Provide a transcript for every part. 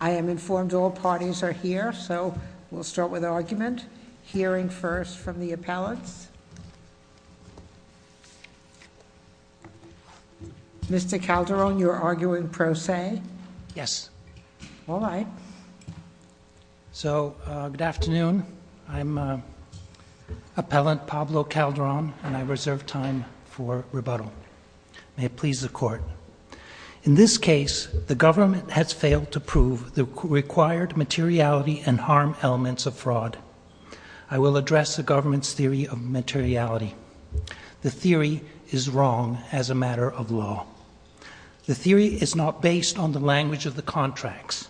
I am informed all parties are here so we'll start with argument. Hearing first from the appellants. Mr. Calderon, you're arguing pro se? Yes. All right. So good afternoon. I'm Appellant Pablo Calderon and I reserve time for rebuttal. May it please the court. In this case the government has failed to prove the required materiality and harm elements of fraud. I will address the government's theory of materiality. The theory is wrong as a matter of law. The theory is not based on the language of the contracts,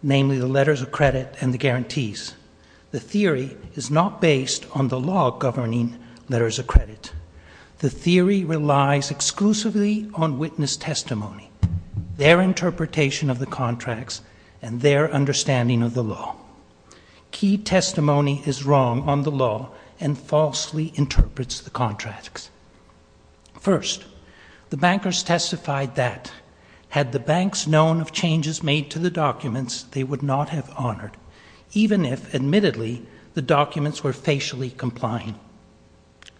namely the letters of credit and the guarantees. The theory is not based on the law governing letters of credit. The theory relies exclusively on witness testimony. Their interpretation of the contracts and their understanding of the law. Key testimony is wrong on the law and falsely interprets the contracts. First, the bankers testified that had the banks known of changes made to the documents they would not have honored, even if admittedly the documents were facially complying.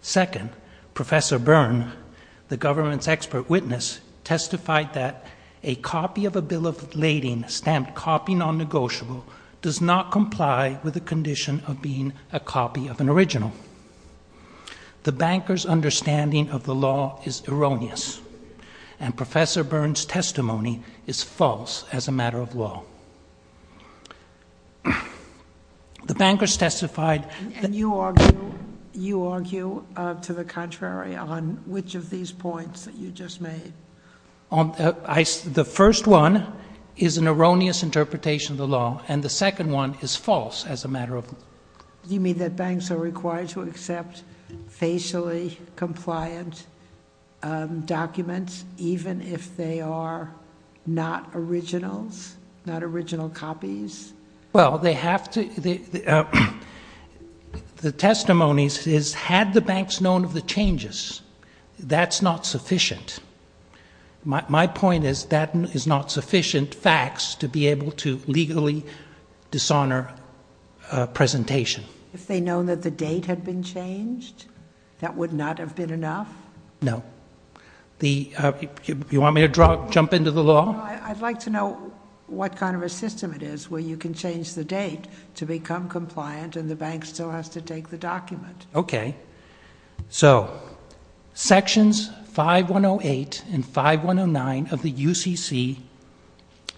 Second, Professor Byrne, the government's expert witness, testified that a copy of a bill of lading stamped copy non-negotiable does not comply with the condition of being a copy of an original. The bankers' understanding of the law is erroneous. And Professor Byrne's testimony is false as a matter of law. The bankers testified... And you argue to the contrary on which of these points that you just made. The first one is an erroneous interpretation of the law, and the second one is false as a matter of law. Do you mean that banks are required to accept facially compliant documents even if they are not originals, not original copies? Well, they have to... The testimony is, had the banks known of the changes, that's not sufficient. My point is that is not sufficient facts to be able to legally dishonor a presentation. If they'd known that the date had been changed, that would not have been enough? No. You want me to jump into the law? No, I'd like to know what kind of a system it is where you can change the date to become compliant and the bank still has to take the document. Okay. So sections 5108 and 5109 of the UCC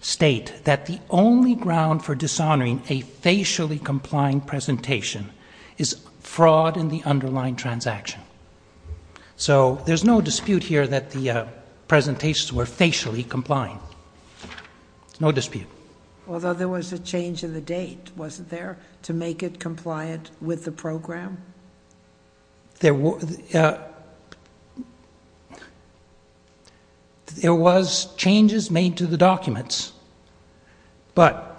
state that the only ground for dishonoring a facially complying presentation is fraud in the underlying transaction. So there's no dispute here that the presentations were facially complying. No dispute. Although there was a change in the date, wasn't there, to make it compliant with the program? There was changes made to the documents, but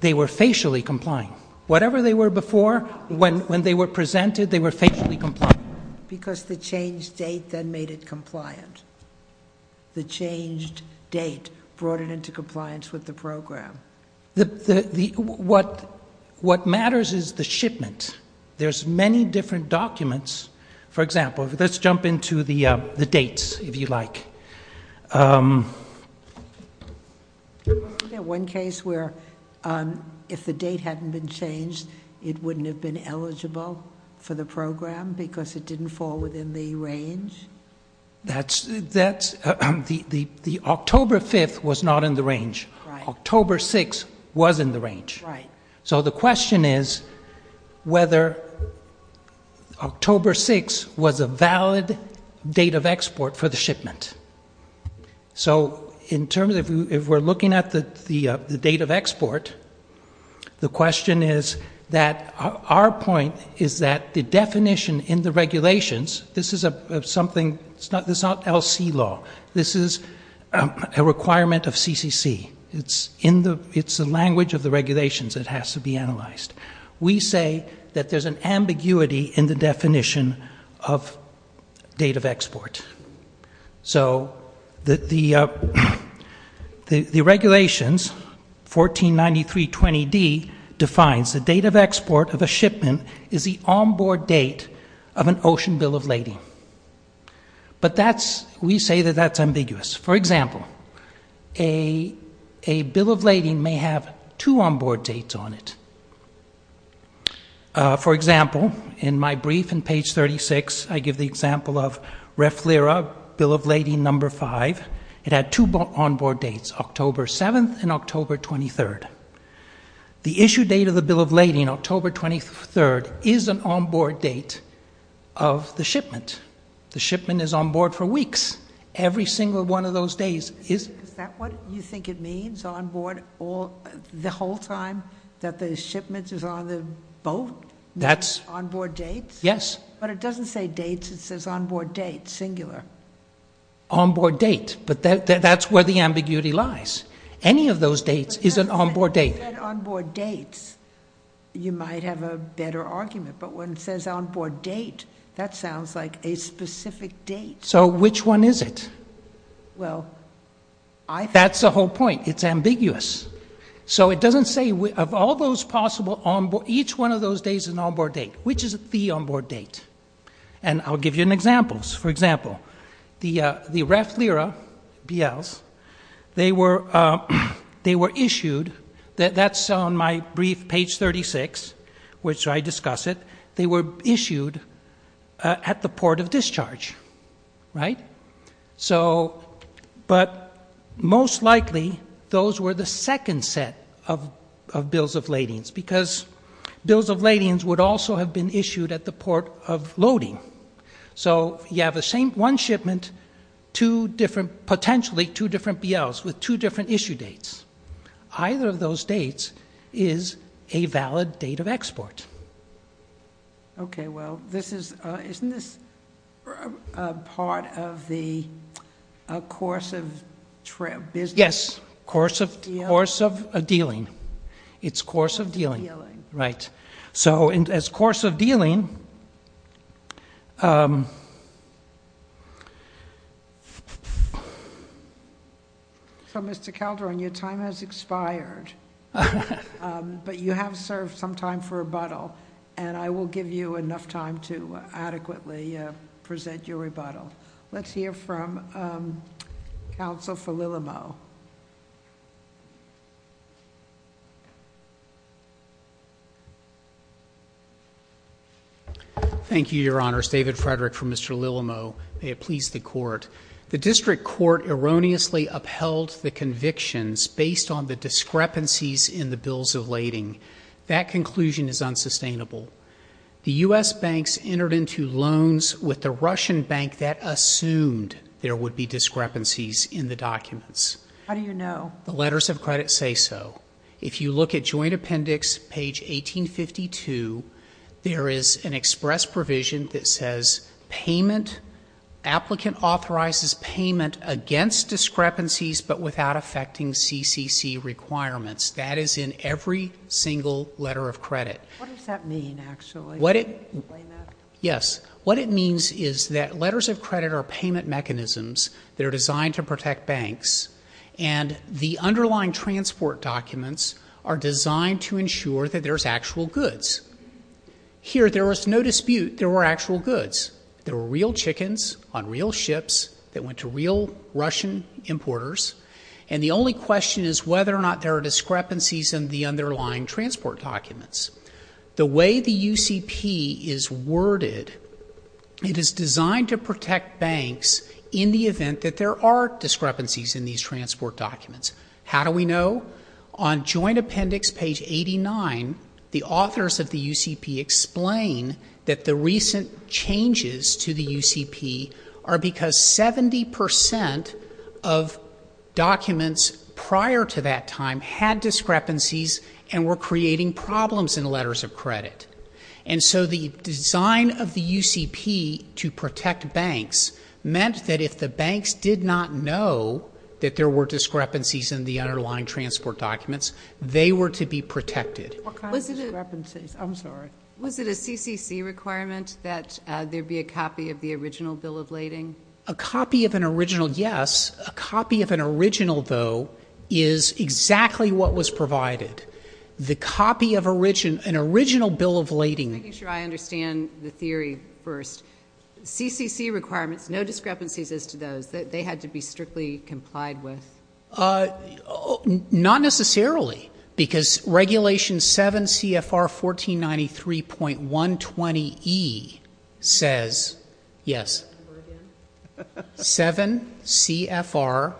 they were facially complying. Whatever they were before, when they were presented, they were facially complying. Because the changed date then made it compliant. The changed date brought it into compliance with the program. What matters is the shipment. There's many different documents. For example, let's jump into the dates, if you like. Isn't there one case where if the date hadn't been changed, it wouldn't have been eligible for the program because it didn't fall within the range? The October 5th was not in the range. October 6th was in the range. So the question is whether October 6th was a valid date of export for the shipment. So in terms of if we're looking at the date of export, the question is that our point is that the definition in the regulations, this is something, this is not LC law. This is a requirement of CCC. It's the language of the regulations that has to be analyzed. We say that there's an ambiguity in the definition of date of export. So the regulations, 149320D, defines the date of export of a shipment is the onboard date of an ocean bill of lading. But we say that that's ambiguous. For example, a bill of lading may have two onboard dates on it. For example, in my brief, in page 36, I give the example of REF LIRA, bill of lading number 5. It had two onboard dates, October 7th and October 23rd. The issue date of the bill of lading, October 23rd, is an onboard date of the shipment. The shipment is onboard for weeks. Every single one of those days is... The whole time that the shipment is on the boat, that's onboard dates? Yes. But it doesn't say dates. It says onboard date, singular. Onboard date. But that's where the ambiguity lies. Any of those dates is an onboard date. If it said onboard dates, you might have a better argument. But when it says onboard date, that sounds like a specific date. So which one is it? Well, I... That's the whole point. It's ambiguous. So it doesn't say, of all those possible... Each one of those days is an onboard date. Which is the onboard date? And I'll give you an example. For example, the REF LIRA BLs, they were issued... That's on my brief, page 36, which I discuss it. They were issued at the port of discharge. Right? So... But most likely, those were the second set of bills of ladings. Because bills of ladings would also have been issued at the port of loading. So you have the same one shipment, two different... Potentially two different BLs with two different issue dates. Either of those dates is a valid date of export. Okay. Well, this is... Isn't this part of the course of business? Yes. Course of dealing. It's course of dealing. Right. So as course of dealing... So, Mr. Calderon, your time has expired. But you have served some time for rebuttal. And I will give you enough time to adequately present your rebuttal. Let's hear from counsel for Lillimo. Thank you, Your Honor. It's David Frederick from Mr. Lillimo. May it please the Court. The district court erroneously upheld the convictions based on the discrepancies in the bills of lading. That conclusion is unsustainable. The U.S. banks entered into loans with the Russian bank that assumed there would be discrepancies in the documents. How do you know? The letters of credit say so. If you look at joint appendix, page 1852, there is an against discrepancies but without affecting CCC requirements. That is in every single letter of credit. What does that mean, actually? What it... Can you explain that? Yes. What it means is that letters of credit are payment mechanisms that are designed to protect banks. And the underlying transport documents are designed to ensure that there is actual goods. Here, there was no dispute there were actual goods. There were real chickens on real ships that went to real Russian importers. And the only question is whether or not there are discrepancies in the underlying transport documents. The way the UCP is worded, it is designed to protect banks in the event that there are discrepancies in these transport documents. How do we know? On joint appendix, page 89, the authors of the UCP explain that the recent changes to the UCP are because 70% of documents prior to that time had discrepancies and were creating problems in the letters of credit. And so the design of the UCP to protect banks meant that if the banks did not know that there were discrepancies in the underlying transport documents, they were to be protected. What kind of discrepancies? I'm sorry. Was it a CCC requirement that there be a copy of the original bill of lading? A copy of an original, yes. A copy of an original, though, is exactly what was provided. The copy of an original bill of lading... Just making sure I understand the theory first. CCC requirements, no discrepancies as to those. They had to be strictly complied with? Not necessarily, because regulation 7 CFR 1493.120E says, yes, 7 CFR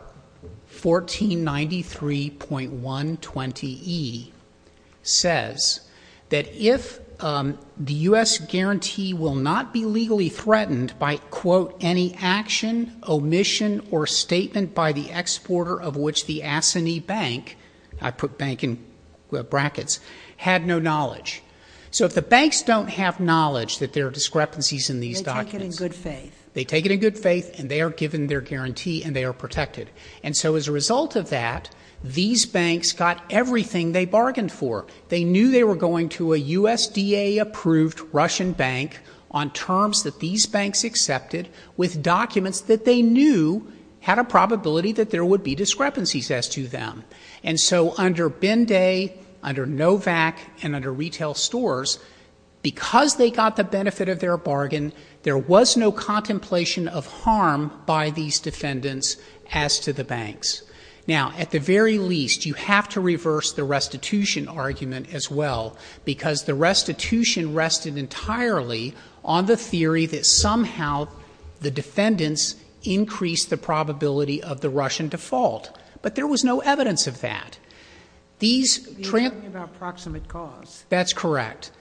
1493.120E says that if the U.S. guarantee will not be legally threatened by, quote, any action, omission, or statement by the exporter of which the ASSANY bank, I put bank in brackets, had no knowledge. So if the banks don't have knowledge that there are discrepancies in these documents... They take it in good faith. They take it in good faith, and they are given their guarantee, and they are protected. And so as a result of that, these banks got everything they bargained for. They knew they were going to a USDA-approved Russian bank on terms that these banks accepted with documents that they knew had a probability that there would be discrepancies as to them. And so under Binday, under Novak, and under retail stores, because they got the benefit of their bargain, there was no contemplation of harm by these defendants as to the banks. Now at the very least, you have to reverse the restitution argument as well, because the restitution rested entirely on the theory that somehow the defendants increased the probability of the Russian default. But there was no evidence of that. These... You're talking about proximate cause. That's correct.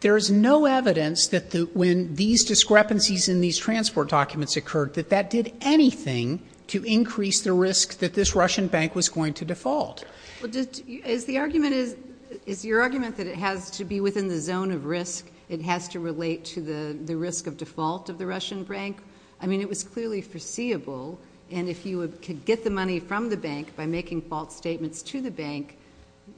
There is no evidence that when these discrepancies in these transport documents occurred, that that did anything to increase the risk that this Russian bank was going to default. Is the argument... Is your argument that it has to be within the zone of risk? It has to relate to the risk of default of the Russian bank? I mean, it was clearly foreseeable, and if you could get the money from the bank by making false statements to the bank,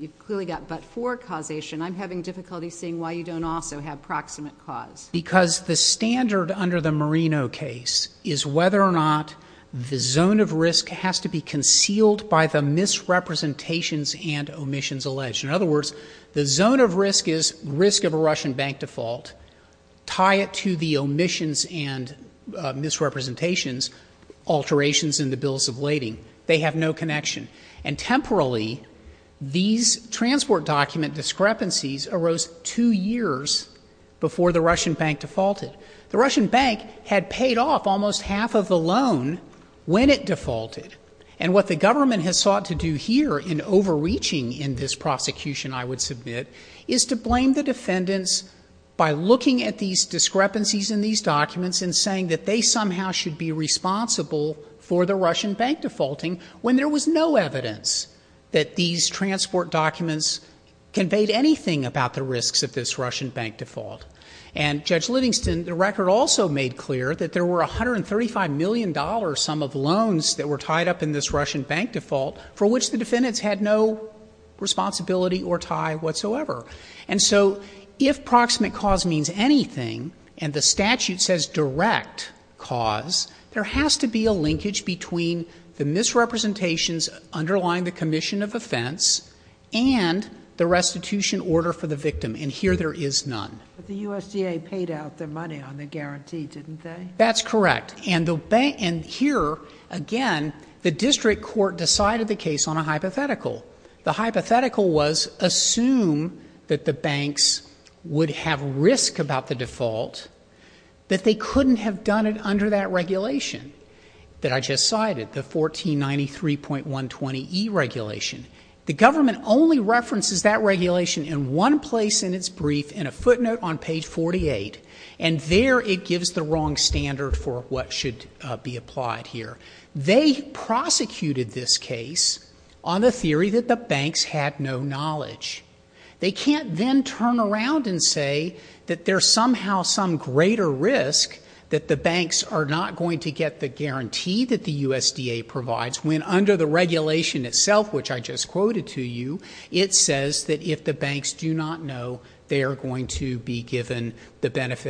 you've clearly got but-for causation. I'm having difficulty seeing why you don't also have proximate cause. Because the standard under the Marino case is whether or not the zone of risk has to be concealed by the misrepresentations and omissions alleged. In other words, the zone of risk is risk of a Russian bank default, tie it to the omissions and misrepresentations, alterations in the bills of lading. They have no connection. And temporarily, these transport document discrepancies arose two years before the Russian bank defaulted. The Russian bank had paid off almost half of the loan when it defaulted. And what the government has sought to do here in overreaching in this prosecution, I would submit, is to blame the defendants by looking at these discrepancies in these documents and saying that they somehow should be responsible for the Russian bank defaulting when there was no evidence that these transport documents conveyed anything about the risks of this Russian bank default. And Judge Lidingston, the record also made clear that there were $135 million sum of loans that were tied up in this Russian bank default for which the defendants had no responsibility or tie whatsoever. And so if proximate cause means anything, and the statute says direct cause, there has to be a linkage between the misrepresentations underlying the commission of offense and the restitution order for the victim. And here there is none. But the USDA paid out their money on the guarantee, didn't they? That's correct. And here, again, the district court decided the case on a hypothetical. The hypothetical was assume that the banks would have risk about the default, that they couldn't have done it under that regulation that I just cited, the 1493.120e regulation. The government only references that regulation in one place in its brief, in a footnote on page 48. And there it gives the wrong standard for what should be applied here. They prosecuted this case on the theory that the banks had no knowledge. They can't then turn around and say that there's somehow some greater risk that the banks are not going to get the benefit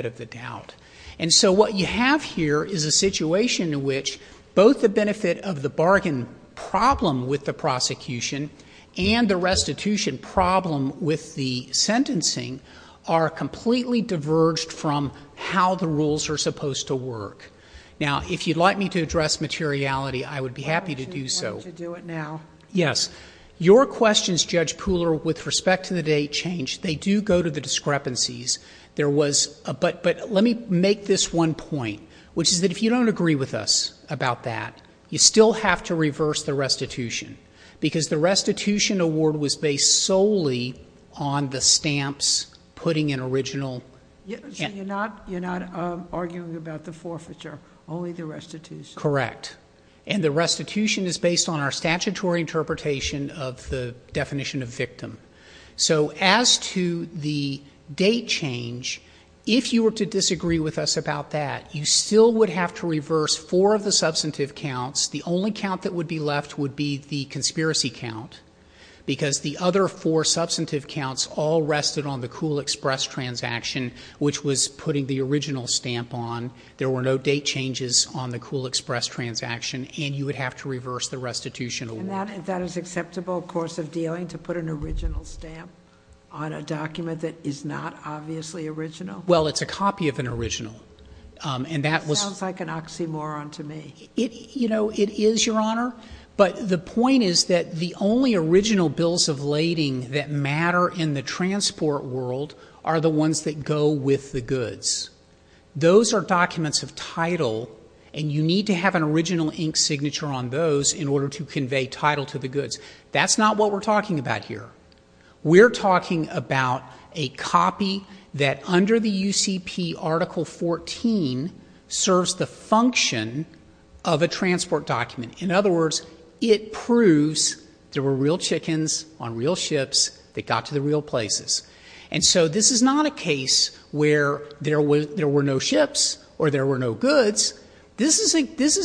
of the doubt. And so what you have here is a situation in which both the benefit of the bargain problem with the prosecution and the restitution problem with the sentencing are completely diverged from how the rules are supposed to work. Now, if you'd like me to address materiality, I would be happy to do so. Would you do it now? Yes. Your questions, Judge Pooler, with respect to the date change, they do go to the discrepancies. There was, but let me make this one point, which is that if you don't agree with us about that, you still have to reverse the restitution. Because the restitution award was based solely on the stamps, putting an original... So you're not arguing about the forfeiture, only the restitution? Correct. And the restitution is based on our statutory interpretation of the definition of victim. So as to the date change, if you were to disagree with us about that, you still would have to reverse four of the substantive counts. The only count that would be left would be the conspiracy count, because the other four substantive counts all rested on the Cool Express transaction, which was putting the original stamp on. There were no date changes on the Cool Express transaction, and you would have to reverse the restitution award. And that is acceptable course of dealing, to put an original stamp on a document that is not obviously original? Well, it's a copy of an original. And that was... Sounds like an oxymoron to me. You know, it is, Your Honor. But the point is that the only original bills of lading that matter in the transport world are the ones that go with the goods. Those are documents of title, and you need to have an original ink signature on those in order to convey title to the goods. That's not what we're talking about here. We're talking about a copy that under the UCP Article 14 serves the function of a transport document. In other words, it proves there were real chickens on real ships that got to the real places. And so this is not a case where there were no ships or there were no goods. This is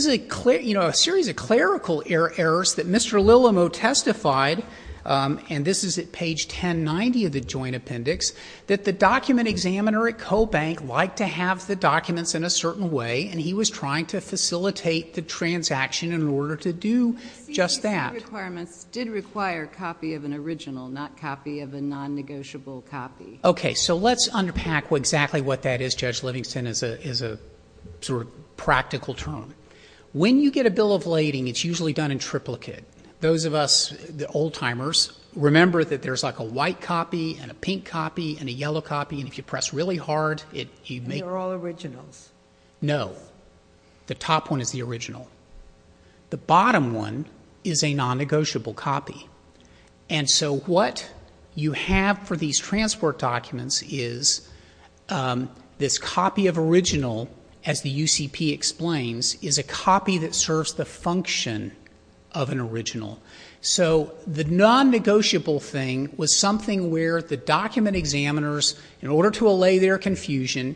a series of clerical errors that Mr. Lilimo testified, and this is at page 1090 of the Joint Appendix, that the document examiner at Cobank liked to have the documents in a certain way, and he was trying to facilitate the transaction in order to do just that. The requirements did require a copy of an original, not a copy of a non-negotiable copy. Okay, so let's unpack exactly what that is, Judge Livingston, as a sort of practical term. When you get a bill of lading, it's usually done in triplicate. Those of us, the old-timers, remember that there's like a white copy and a pink copy and a yellow copy, and if you press really hard, it may— They're all originals. No. The top one is the original. The bottom one is a non-negotiable copy. And so what you have for these transport documents is this copy of original, as the UCP explains, is a copy that serves the function of an original. So the non-negotiable thing was something where the document examiners, in order to allay their confusion,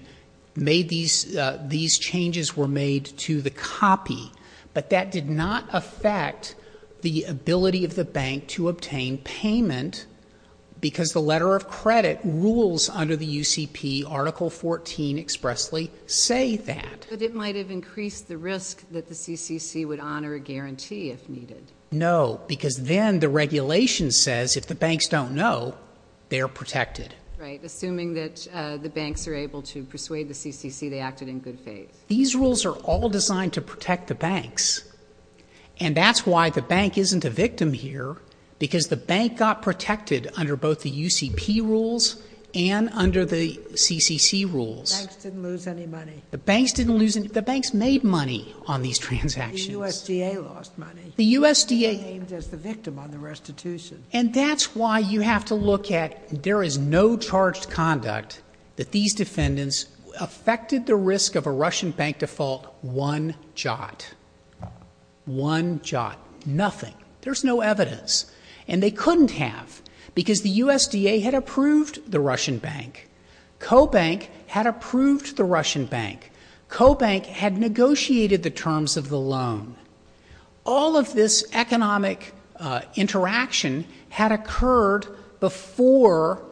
made these—these changes were made to the copy. But that did not affect the ability of the bank to obtain payment because the letter of credit rules under the UCP, Article 14 expressly say that. But it might have increased the risk that the CCC would honor a guarantee if needed. No, because then the regulation says if the banks don't know, they're protected. Right. Assuming that the banks are able to persuade the CCC, they acted in good faith. These rules are all designed to protect the banks, and that's why the bank isn't a victim here because the bank got protected under both the UCP rules and under the CCC rules. The banks didn't lose any money. The banks didn't lose any—the banks made money on these transactions. The USDA lost money. The USDA— They were named as the victim on the restitution. And that's why you have to look at—there is no charged conduct that these defendants affected the risk of a Russian bank default one jot. One jot. Nothing. There's no evidence. And they couldn't have because the USDA had approved the Russian bank. Cobank had approved the Russian bank. Cobank had negotiated the terms of the loan. All of this economic interaction had occurred before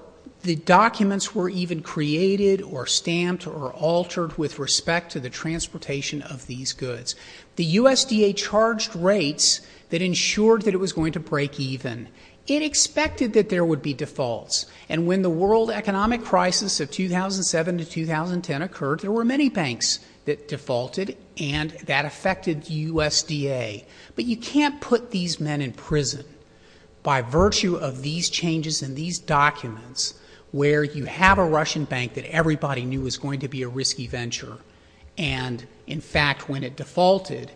the documents were even created or stamped or altered with respect to the transportation of these goods. The USDA charged rates that ensured that it was going to break even. It expected that there would be defaults. And when the world economic crisis of 2007 to 2010 occurred, there were many banks that defaulted and that affected the USDA. But you can't put these men in prison by virtue of these changes in these documents where you have a Russian bank that everybody knew was going to be a risky venture. And, in fact, when it defaulted,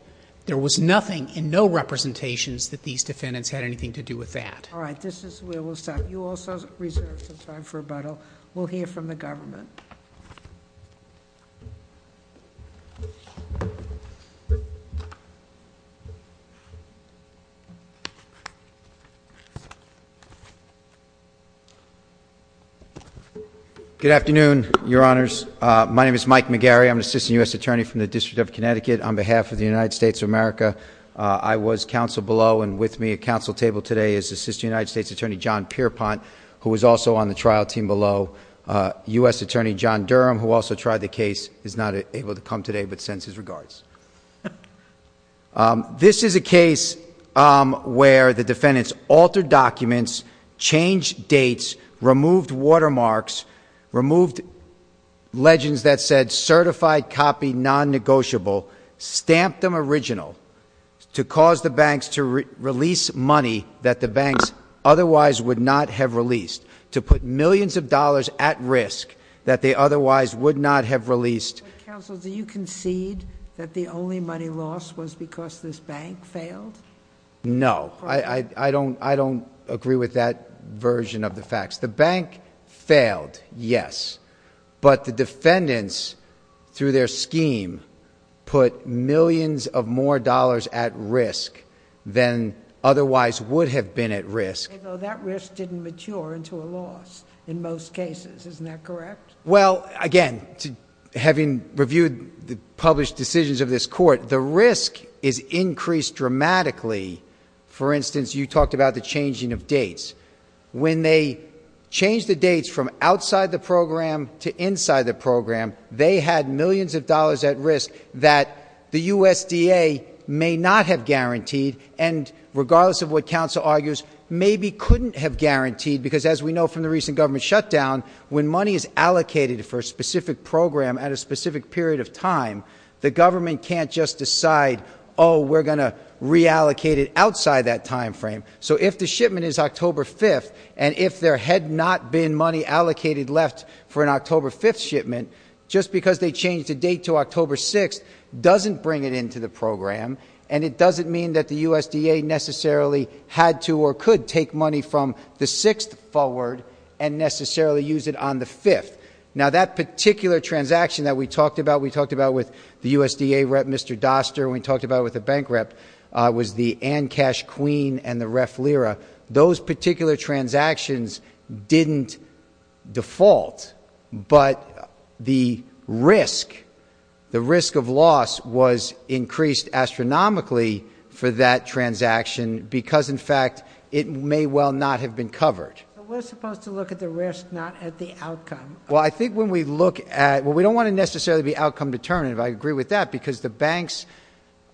there was nothing and no representations that these defendants had anything to do with that. All right. This is where we'll stop. You also reserved some time for rebuttal. We'll hear from the government. Good afternoon, Your Honors. My name is Mike McGarry. I'm an assistant U.S. attorney from the District of Connecticut. On behalf of the United States of America, I was counsel below and with me at counsel table today is Assistant United States Attorney John Pierpont, who was also on the trial team below. U.S. Attorney John Durham, who also tried the case, is not able to come today but sends his regards. This is a case where the defendants altered documents, changed dates, removed watermarks, removed legends that said certified copy non-negotiable, stamped them original to cause the banks to release money that the banks otherwise would not have released, to put millions of dollars at risk that they otherwise would not have released. Counsel, do you concede that the only money lost was because this bank failed? No. I don't agree with that version of the facts. The bank failed, yes, but the defendants through their scheme put millions of more dollars at risk than otherwise would have been at risk. That risk didn't mature into a loss in most cases, isn't that correct? Well, again, having reviewed the published decisions of this court, the risk is increased dramatically. For instance, you talked about the changing of dates. When they change the date, they had millions of dollars at risk that the USDA may not have guaranteed and regardless of what counsel argues, maybe couldn't have guaranteed because as we know from the recent government shutdown, when money is allocated for a specific program at a specific period of time, the government can't just decide, oh, we're going to reallocate it outside that time frame. So if the shipment is October 5th and if there had not been money allocated left for an October 5th shipment, just because they changed the date to October 6th doesn't bring it into the program and it doesn't mean that the USDA necessarily had to or could take money from the 6th forward and necessarily use it on the 5th. Now that particular transaction that we talked about, we talked about with the USDA rep Mr. Doster, we talked about with the bank rep was the Ancash Queen and the Ref Lira. Those particular transactions didn't default, but the risk, the risk of loss was increased astronomically for that transaction because, in fact, it may well not have been covered. But we're supposed to look at the risk, not at the outcome. Well, I think when we look at, well, we don't want to necessarily be outcome determinative. I agree with that because the banks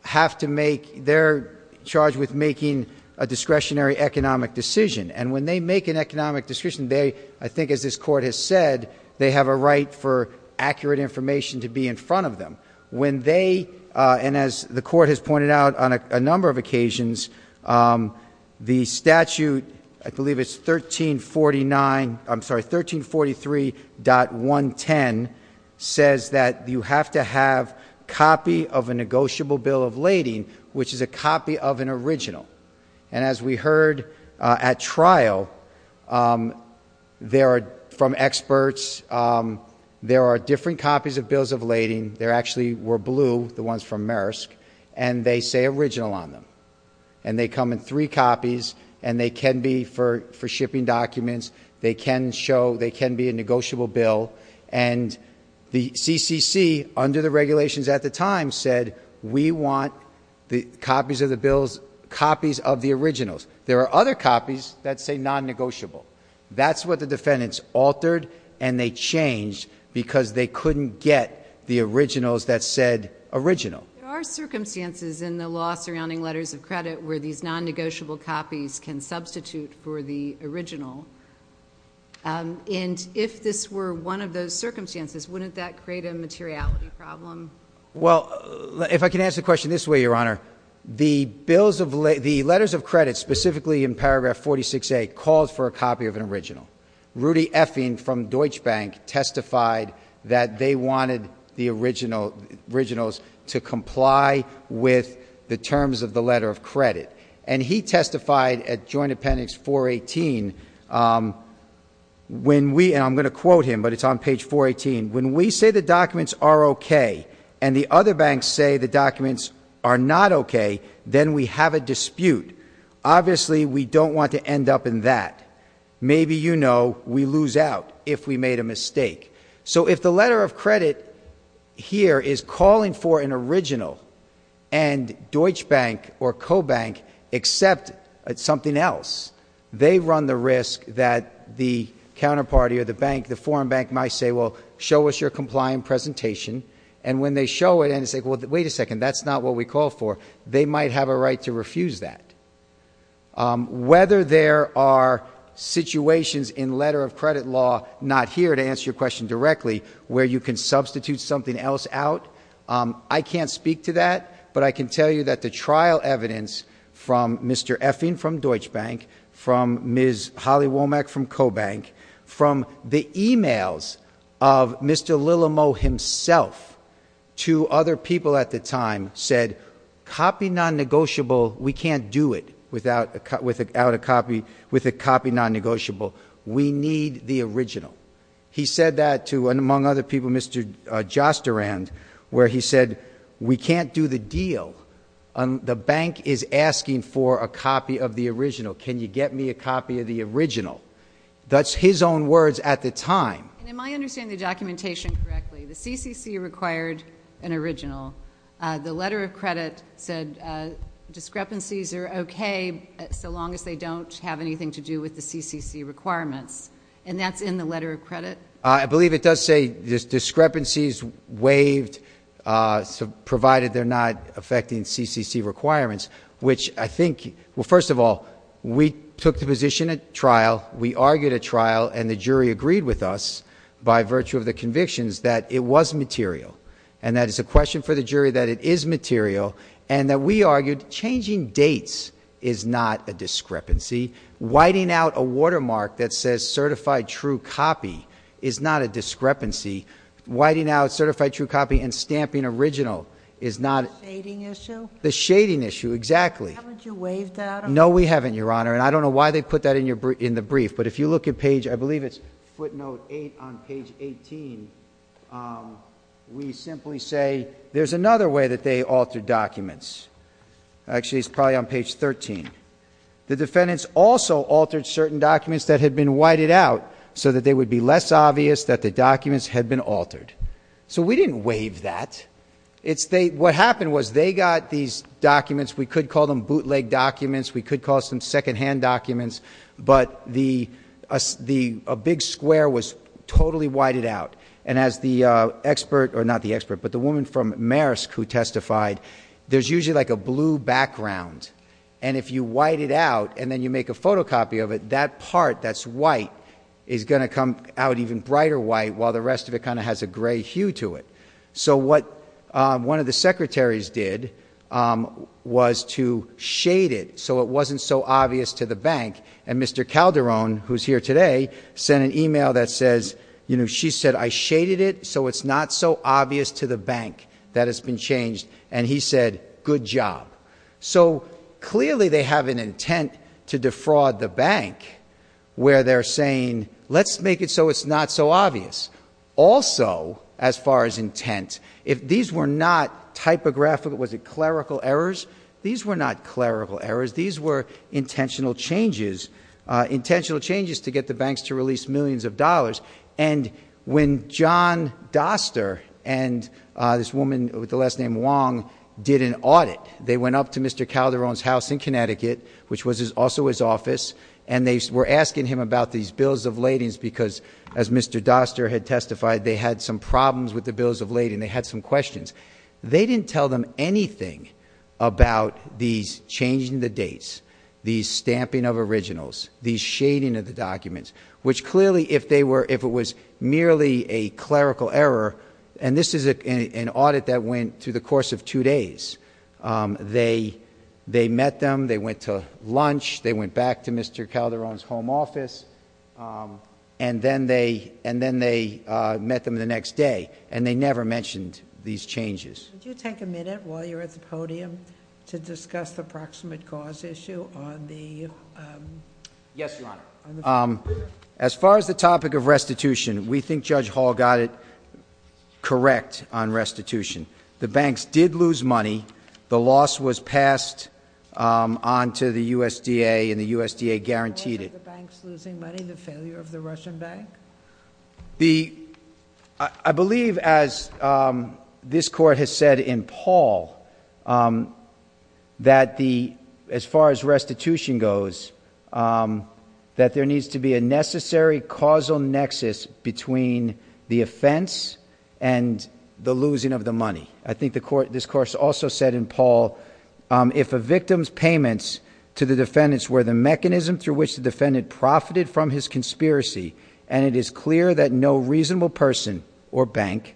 have to make, they're charged with making a discretionary economic decision. And when they make an economic decision, they, I think as this court has said, they have a right for accurate information to be in front of them. When they, and as the court has pointed out on a number of occasions, the statute, I believe it's 1349, I'm sorry, 1343.110 says that you have to have copy of a negotiable bill of original. And as we heard at trial, there are, from experts, there are different copies of bills of lading, there actually were blue, the ones from Maersk, and they say original on them. And they come in three copies and they can be for shipping documents, they can show, they can be a negotiable bill. And the CCC, under the regulations at the time, said we want the copies of the bills, copies of the originals. There are other copies that say non-negotiable. That's what the defendants altered and they changed because they couldn't get the originals that said original. There are circumstances in the law surrounding letters of credit where these non-negotiable copies can substitute for the original. And if this were one of those circumstances, wouldn't that create a materiality problem? Well, if I can answer the question this way, Your Honor, the letters of credit, specifically in paragraph 46A, calls for a copy of an original. Rudy Effing from Deutsche Bank testified that they wanted the originals to comply with the terms of the letter of credit. And he testified at Joint Appendix 418, and I'm going to quote him, but it's on page 418, when we say the documents are okay and the other banks say the documents are not okay, then we have a dispute. Obviously, we don't want to end up in that. Maybe, you know, we lose out if we made a mistake. So if the letter of credit here is calling for an original and Deutsche Bank or Co-Bank accept something else, they run the risk that the counterparty or the bank, the foreign bank, will show us your compliant presentation, and when they show it and say, well, wait a second, that's not what we called for, they might have a right to refuse that. Whether there are situations in letter of credit law not here to answer your question directly where you can substitute something else out, I can't speak to that, but I can tell you that the trial evidence from Mr. Effing from Deutsche Bank, from Ms. Holly Womack from Mr. Lillamo himself to other people at the time said, copy non-negotiable, we can't do it without a copy, with a copy non-negotiable. We need the original. He said that to, among other people, Mr. Jostarand, where he said, we can't do the deal. The bank is asking for a copy of the original. Can you get me a copy of the original? That's his own words at the time. And am I understanding the documentation correctly? The CCC required an original. The letter of credit said discrepancies are okay so long as they don't have anything to do with the CCC requirements, and that's in the letter of credit? I believe it does say discrepancies waived, provided they're not affecting CCC requirements, which I think, well, first of all, we took the position at trial, we argued at trial, and the jury agreed with us by virtue of the convictions that it was material, and that it's a question for the jury that it is material, and that we argued changing dates is not a discrepancy. Whiting out a watermark that says certified true copy is not a discrepancy. Whiting out certified true copy and stamping original is not a Shading issue? The shading issue, exactly. Haven't you waived that? No, we haven't, Your Honor, and I don't know why they put that in the brief, but if you look at page, I believe it's footnote 8 on page 18, we simply say there's another way that they altered documents. Actually, it's probably on page 13. The defendants also altered certain documents that had been whited out so that they would be less obvious that the documents had been altered. So we didn't waive that. What happened was they got these documents, we could call them bootleg documents, we could call them secondhand documents, but a big square was totally whited out, and as the woman from Maersk who testified, there's usually like a blue background, and if you white it out and then you make a photocopy of it, that part that's white is going to come out even brighter white while the rest of it kind of has a gray hue to it. So what one of the secretaries did was to shade it so it wasn't so obvious to the bank, and Mr. Calderon, who's here today, sent an email that says, you know, she said, I shaded it so it's not so obvious to the bank that it's been changed, and he said, good job. So clearly they have an intent to defraud the bank where they're saying, let's make it so it's not so obvious. Also, as far as intent, if these were not typographical, was it clerical errors? These were not clerical errors. These were intentional changes, intentional changes to get the banks to release millions of dollars, and when John Doster and this woman with the last name Wong did an audit, they went up to Mr. Calderon's house in Connecticut, which was also his office, and they were asking him about these bills of ladings because, as Mr. Doster had testified, they had some problems with the bills of lading, they had some questions. They didn't tell them anything about these changing the dates, the stamping of originals, the shading of the documents, which clearly if they were, if it was merely a clerical error, and this is an audit that went through the course of two days, they met them, they went to lunch, they went back to Mr. Calderon's home office, and then they met them the next day, and they never mentioned these changes. Would you take a minute while you're at the podium to discuss the proximate cause issue on the... Yes, Your Honor. As far as the topic of restitution, we think Judge Hall got it correct on restitution. The banks did lose money, the loss was passed on to the USDA, and the USDA guaranteed it. Was it the banks losing money, the failure of the Russian bank? I believe, as this Court has said in Paul, that as far as restitution goes, that there needs to be a necessary causal nexus between the offense and the losing of the money. I think this Court also said in Paul, if a victim's payments to the defendants were the mechanism through which the defendant profited from his conspiracy, and it is clear that no reasonable person or bank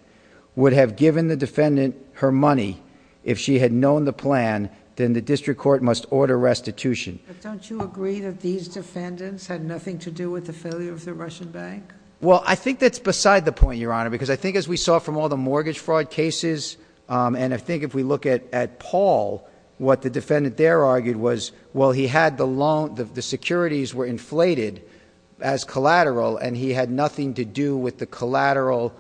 would have given the defendant her money if she had known the plan, then the district court must order restitution. But don't you agree that these defendants had nothing to do with the failure of the Russian bank? Well, I think that's beside the point, Your Honor, because I think as we saw from all the mortgage fraud cases, and I think if we look at Paul, what the defendant there argued was, well, he had the loan, the securities were inflated as collateral, and he had nothing to do with the collateral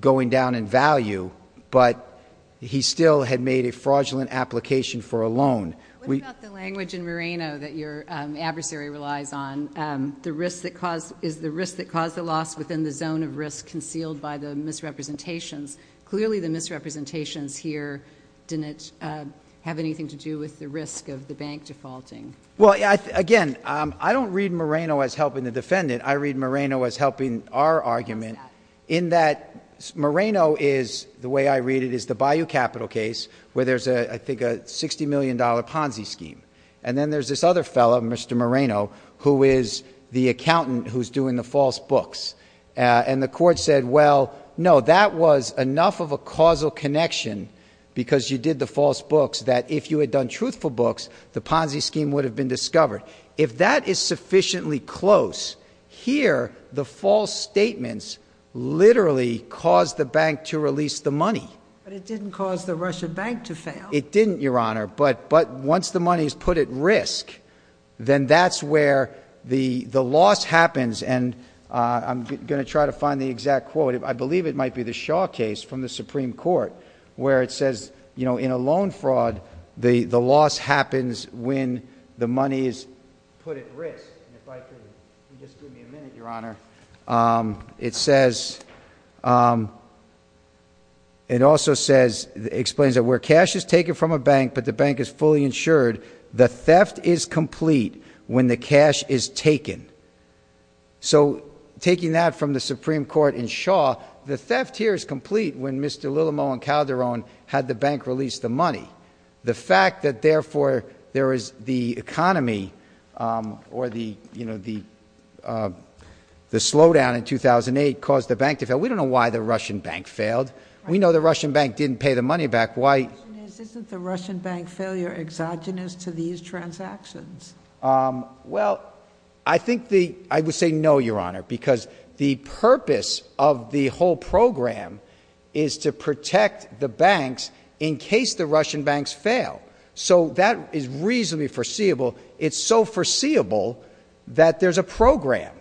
going down in value, but he still had made a fraudulent application for a loan. What about the language in Moreno that your adversary relies on? Is the risk that caused the loss within the zone of risk concealed by the misrepresentations? Clearly, the misrepresentations here didn't have anything to do with the risk of the bank defaulting. Well, again, I don't read Moreno as helping the defendant. I read Moreno as helping our argument in that Moreno is, the way I read it, is the Bayou Capital case where there's, I think, a $60 million Ponzi scheme. And then there's this other fellow, Mr. Moreno, who is the accountant who's doing the false books. And the court said, well, no, that was enough of a causal connection, because you did the false books, that if you had done truthful books, the Ponzi scheme would have been discovered. If that is sufficiently close, here, the false statements literally caused the bank to release the money. But it didn't cause the Russian bank to fail. It didn't, Your Honor. But once the money is put at risk, then that's where the loss happens. And I'm going to try to find the exact quote. I believe it might be the Shaw case from the Supreme Court where it says, you know, in a loan fraud, the loss happens when the money is put at risk. And if I could just give me a minute, Your Honor. It also explains that where cash is taken from a bank, but the bank is fully insured, the theft is complete when the cash is taken. So taking that from the Supreme Court in Shaw, the theft here is complete when Mr. Willemot and Calderon had the bank release the money. The fact that therefore, there is the economy, or the slowdown in 2008 caused the bank to fail. We don't know why the Russian bank failed. We know the Russian bank didn't pay the money back. Why- The question is, isn't the Russian bank failure exogenous to these transactions? Well, I think the, I would say no, Your Honor. Because the purpose of the whole program is to protect the banks in case the Russian banks fail. So that is reasonably foreseeable. It's so foreseeable that there's a program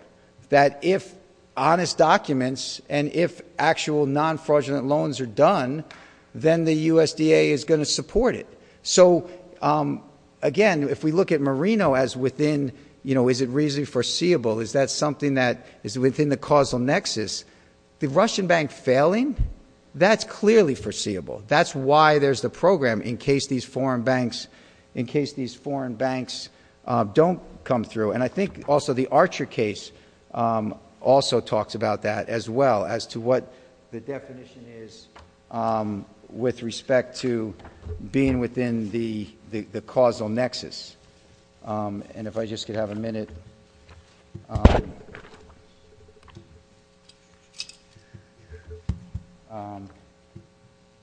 that if honest documents and if actual non-fraudulent loans are done, then the USDA is going to support it. So again, if we look at Marino as within, is it reasonably foreseeable? Is that something that is within the causal nexus? The Russian bank failing, that's clearly foreseeable. That's why there's the program in case these foreign banks don't come through. And I think also the Archer case also talks about that as well as to what the definition is with respect to being within the causal nexus. And if I just could have a minute.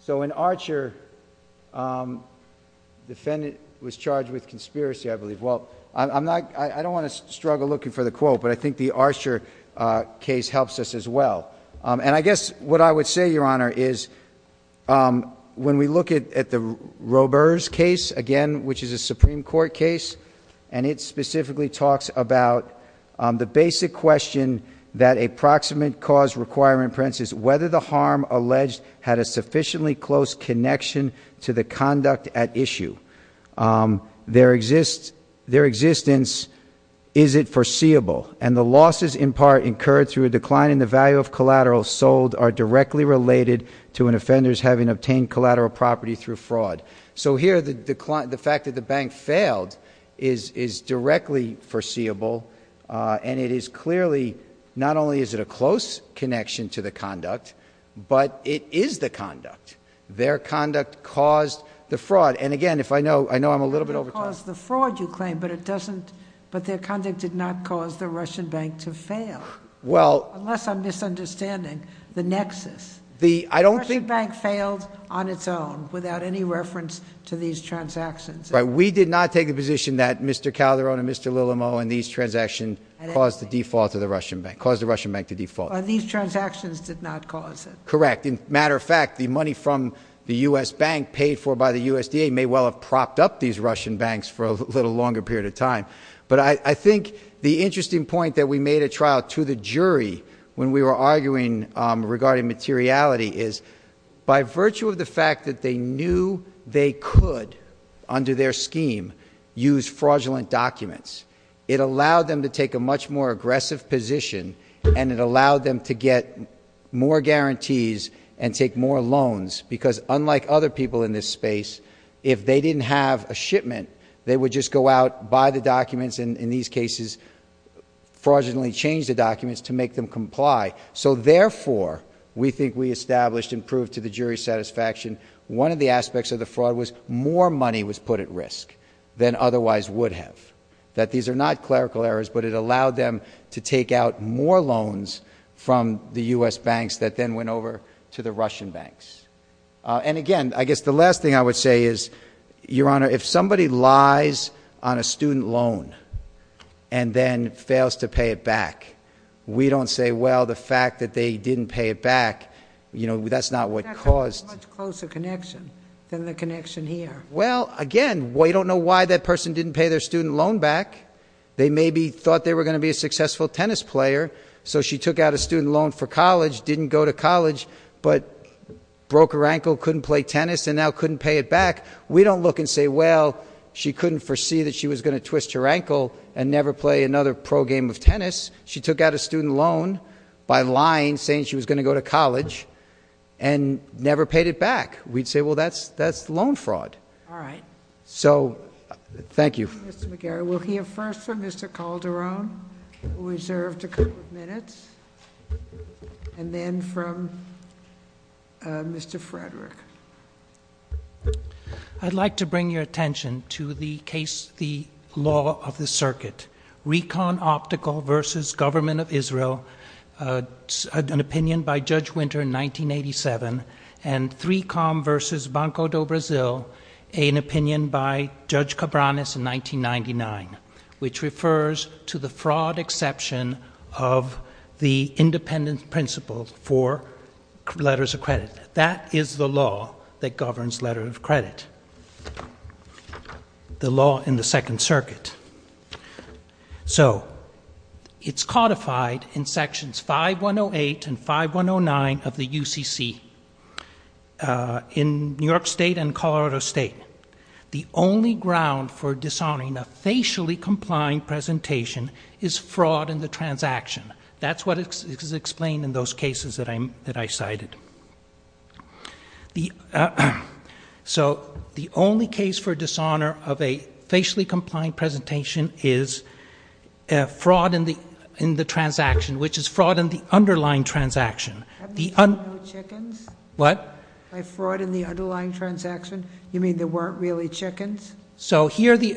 So in Archer, defendant was charged with conspiracy, I believe. Well, I don't want to struggle looking for the quote, but I think the Archer case helps us as well. And I guess what I would say, Your Honor, is when we look at the Roburs case, again, which is a Supreme Court case, and it specifically talks about the basic question that a proximate cause requiring, for instance, whether the harm alleged had a sufficiently close connection to the conduct at issue. Their existence, is it foreseeable? And the losses in part incurred through a decline in the value of collateral sold are directly related to an offender's having obtained collateral property through fraud. So here, the fact that the bank failed is directly foreseeable. And it is clearly, not only is it a close connection to the conduct, but it is the conduct. Their conduct caused the fraud. And again, if I know, I know I'm a little bit over time. It didn't cause the fraud, you claim, but their conduct did not cause the Russian bank to fail. Unless I'm misunderstanding the nexus. The Russian bank failed on its own, without any reference to these transactions. But we did not take the position that Mr. Calderon and Mr. Lillamo and these transactions caused the default of the Russian bank. Caused the Russian bank to default. But these transactions did not cause it. Correct, in matter of fact, the money from the US bank paid for by the USDA may well have propped up these Russian banks for a little longer period of time. But I think the interesting point that we made at trial to the jury, when we were arguing regarding materiality is, by virtue of the fact that they knew they could, under their scheme, use fraudulent documents. It allowed them to take a much more aggressive position, and it allowed them to get more guarantees and take more loans. Because unlike other people in this space, if they didn't have a shipment, they would just go out, buy the documents, and in these cases, fraudulently change the documents to make them comply. So therefore, we think we established and proved to the jury satisfaction, one of the aspects of the fraud was more money was put at risk than otherwise would have. That these are not clerical errors, but it allowed them to take out more loans from the US banks that then went over to the Russian banks. And again, I guess the last thing I would say is, Your Honor, if somebody lies on a student loan and then fails to pay it back, we don't say, well, the fact that they didn't pay it back, that's not what caused- That's a much closer connection than the connection here. Well, again, we don't know why that person didn't pay their student loan back. They maybe thought they were going to be a successful tennis player, so she took out a student loan for college, didn't go to college. But broke her ankle, couldn't play tennis, and now couldn't pay it back. We don't look and say, well, she couldn't foresee that she was going to twist her ankle and never play another pro game of tennis. She took out a student loan by lying, saying she was going to go to college, and never paid it back. We'd say, well, that's loan fraud. All right. So, thank you. Mr. McGarry, we'll hear first from Mr. Calderon, who reserved a couple of minutes. And then from Mr. Frederick. I'd like to bring your attention to the case, the law of the circuit. Recon Optical versus Government of Israel, an opinion by Judge Winter in 1987. And 3Com versus Banco do Brasil, an opinion by Judge Cabranes in 1999, which refers to the fraud exception of the independent principle for letters of credit. That is the law that governs letter of credit, the law in the Second Circuit. So, it's codified in sections 5108 and 5109 of the UCC. In New York State and Colorado State, the only ground for dishonoring a facially-compliant presentation is fraud in the transaction. That's what is explained in those cases that I cited. So, the only case for dishonor of a facially-compliant presentation is fraud in the transaction, which is fraud in the underlying transaction. The- Have you seen no chickens? What? By fraud in the underlying transaction, you mean there weren't really chickens? So, the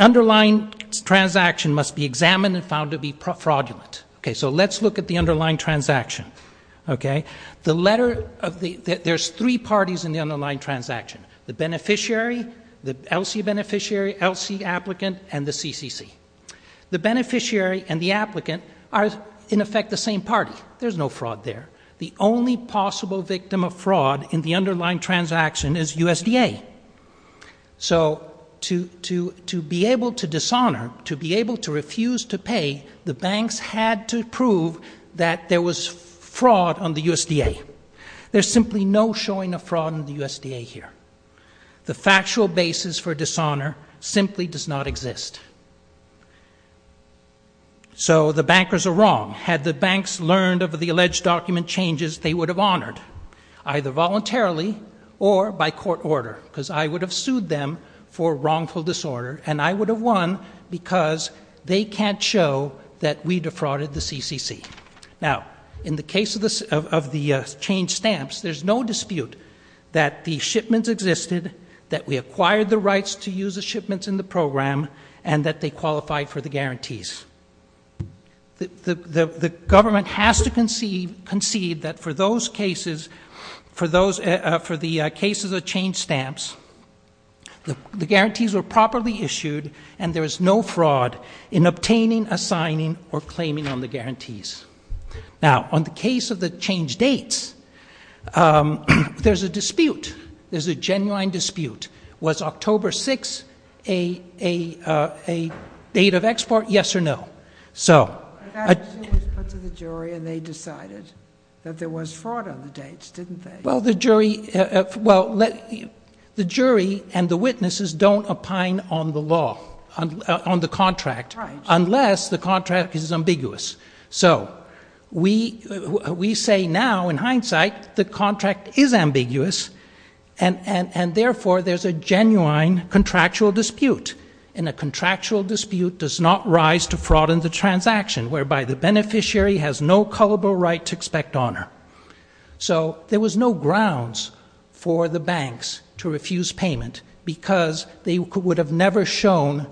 underlying transaction must be examined and found to be fraudulent. Okay, so let's look at the underlying transaction, okay? The letter, there's three parties in the underlying transaction. The beneficiary, the LC beneficiary, LC applicant, and the CCC. The beneficiary and the applicant are, in effect, the same party. There's no fraud there. The only possible victim of fraud in the underlying transaction is USDA. So, to be able to dishonor, to be able to refuse to pay, the banks had to prove that there was fraud on the USDA. There's simply no showing of fraud on the USDA here. The factual basis for dishonor simply does not exist. So, the bankers are wrong. Had the banks learned of the alleged document changes, they would have honored, either voluntarily or by court order, because I would have sued them for wrongful disorder, and I would have won because they can't show that we defrauded the CCC. Now, in the case of the change stamps, there's no dispute that the shipments existed, that we acquired the rights to use the shipments in the program, and that they qualified for the guarantees. The government has to concede that for those cases, for the cases of change stamps, the guarantees were properly issued, and there was no fraud in obtaining, assigning, or claiming on the guarantees. Now, on the case of the change dates, there's a dispute, there's a genuine dispute, was October 6th a date of export, yes or no? So- But that issue was put to the jury, and they decided that there was fraud on the dates, didn't they? Well, the jury and the witnesses don't opine on the law, on the contract, unless the contract is ambiguous. So, we say now, in hindsight, the contract is ambiguous, and therefore, there's a genuine contractual dispute. And a contractual dispute does not rise to fraud in the transaction, whereby the beneficiary has no culpable right to expect honor. So, there was no grounds for the banks to refuse payment, because they would have never shown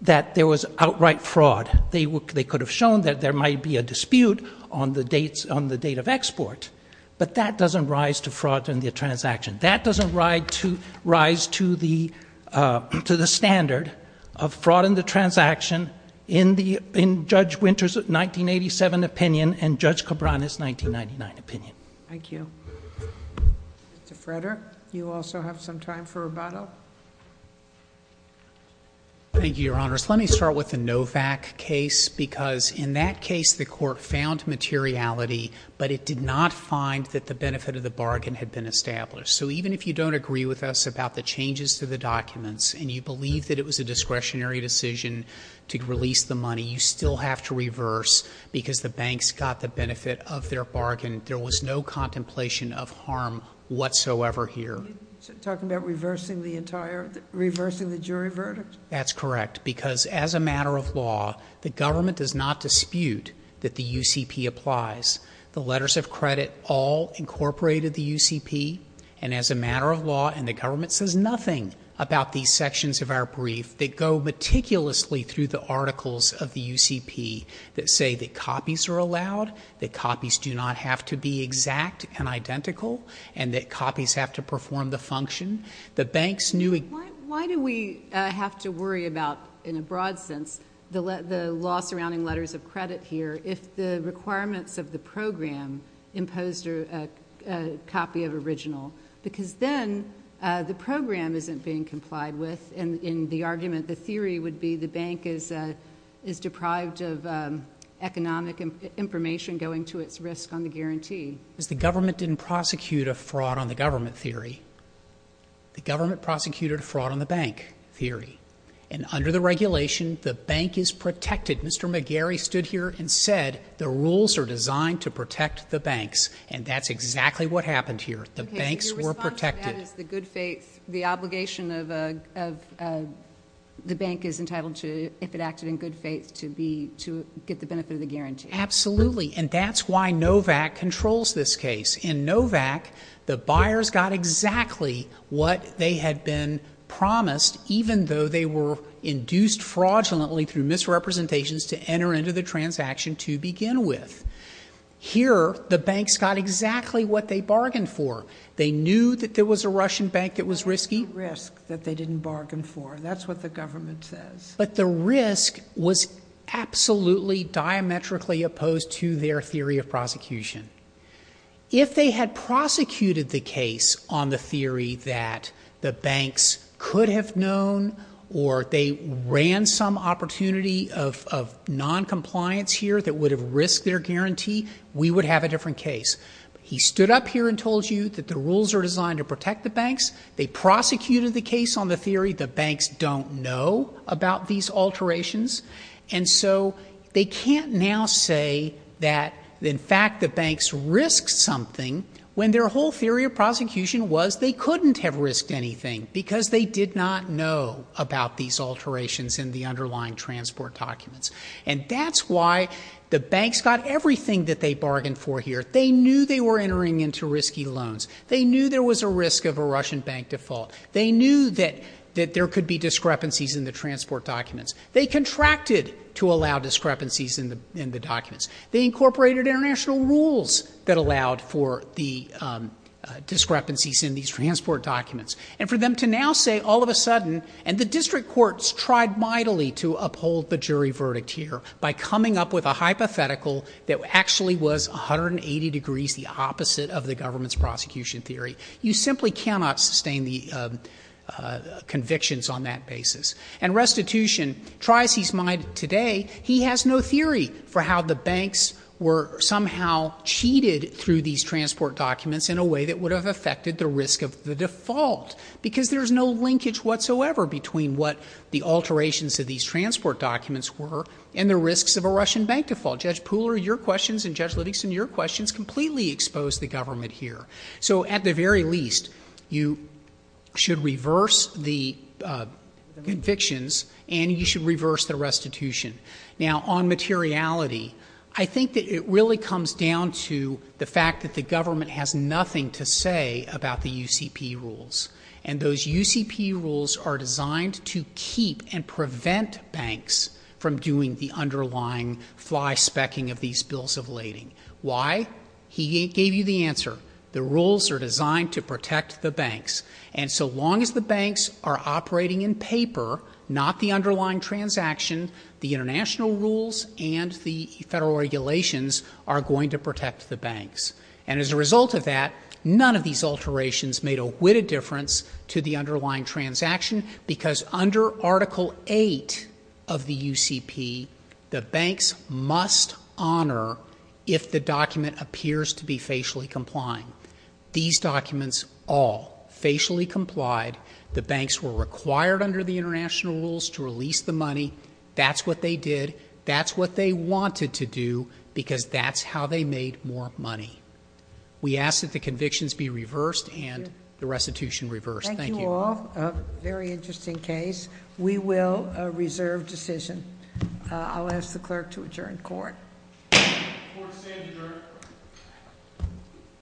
that there was outright fraud. They could have shown that there might be a dispute on the date of export, but that doesn't rise to fraud in the transaction. That doesn't rise to the standard of fraud in the transaction, in Judge Winter's 1987 opinion, and Judge Cabrera's 1999 opinion. Thank you. Mr. Frederick, you also have some time for rebuttal? Thank you, Your Honors. Let me start with the Novak case, because in that case, the court found materiality, but it did not find that the benefit of the bargain had been established. So, even if you don't agree with us about the changes to the documents, and you believe that it was a discretionary decision to release the money, you still have to reverse, because the banks got the benefit of their bargain. There was no contemplation of harm whatsoever here. Talking about reversing the entire, reversing the jury verdict? That's correct, because as a matter of law, the government does not dispute that the UCP applies. The letters of credit all incorporated the UCP, and as a matter of law, and the government says nothing about these sections of our brief that go meticulously through the articles of the UCP. That say that copies are allowed, that copies do not have to be exact and from the function, that banks knew- Why do we have to worry about, in a broad sense, the law surrounding letters of credit here, if the requirements of the program imposed a copy of original? Because then, the program isn't being complied with, and in the argument, the theory would be the bank is deprived of economic information going to its risk on the guarantee. Because the government didn't prosecute a fraud on the government theory. The government prosecuted a fraud on the bank theory. And under the regulation, the bank is protected. Mr. McGarry stood here and said, the rules are designed to protect the banks. And that's exactly what happened here. The banks were protected. Okay, so your response to that is the good faith, the obligation of the bank is entitled to, if it acted in good faith, to get the benefit of the guarantee. Absolutely, and that's why NOVAC controls this case. In NOVAC, the buyers got exactly what they had been promised, even though they were induced fraudulently through misrepresentations to enter into the transaction to begin with. Here, the banks got exactly what they bargained for. They knew that there was a Russian bank that was risky. Risk that they didn't bargain for, that's what the government says. But the risk was absolutely diametrically opposed to their theory of prosecution. If they had prosecuted the case on the theory that the banks could have known, or they ran some opportunity of non-compliance here that would have risked their guarantee, we would have a different case. He stood up here and told you that the rules are designed to protect the banks. They prosecuted the case on the theory the banks don't know about these alterations. And so they can't now say that in fact the banks risked something when their whole theory of prosecution was they couldn't have risked anything because they did not know about these alterations in the underlying transport documents. And that's why the banks got everything that they bargained for here. They knew they were entering into risky loans. They knew there was a risk of a Russian bank default. They knew that there could be discrepancies in the transport documents. They contracted to allow discrepancies in the documents. They incorporated international rules that allowed for the discrepancies in these transport documents. And for them to now say all of a sudden, and the district courts tried mightily to uphold the jury verdict here by coming up with a hypothetical that actually was 180 degrees the opposite of the government's prosecution theory. You simply cannot sustain the convictions on that basis. And restitution tries his mind today. He has no theory for how the banks were somehow cheated through these transport documents in a way that would have affected the risk of the default. Because there's no linkage whatsoever between what the alterations of these transport documents were and the risks of a Russian bank default. Judge Pooler, your questions and Judge Livingston, your questions completely expose the government here. So at the very least, you should reverse the convictions and you should reverse the restitution. Now on materiality, I think that it really comes down to the fact that the government has nothing to say about the UCP rules. And those UCP rules are designed to keep and prevent banks from doing the underlying fly specking of these bills of lading. Why? He gave you the answer. The rules are designed to protect the banks. And so long as the banks are operating in paper, not the underlying transaction, the international rules and the federal regulations are going to protect the banks. And as a result of that, none of these alterations made a witted difference to the underlying transaction because under Article 8 of the UCP, the banks must honor if the document appears to be facially complying. These documents all facially complied. The banks were required under the international rules to release the money. That's what they did. That's what they wanted to do because that's how they made more money. We ask that the convictions be reversed and the restitution reversed. Thank you. Thank you all. Very interesting case. We will reserve decision. I'll ask the clerk to adjourn court. The court is adjourned.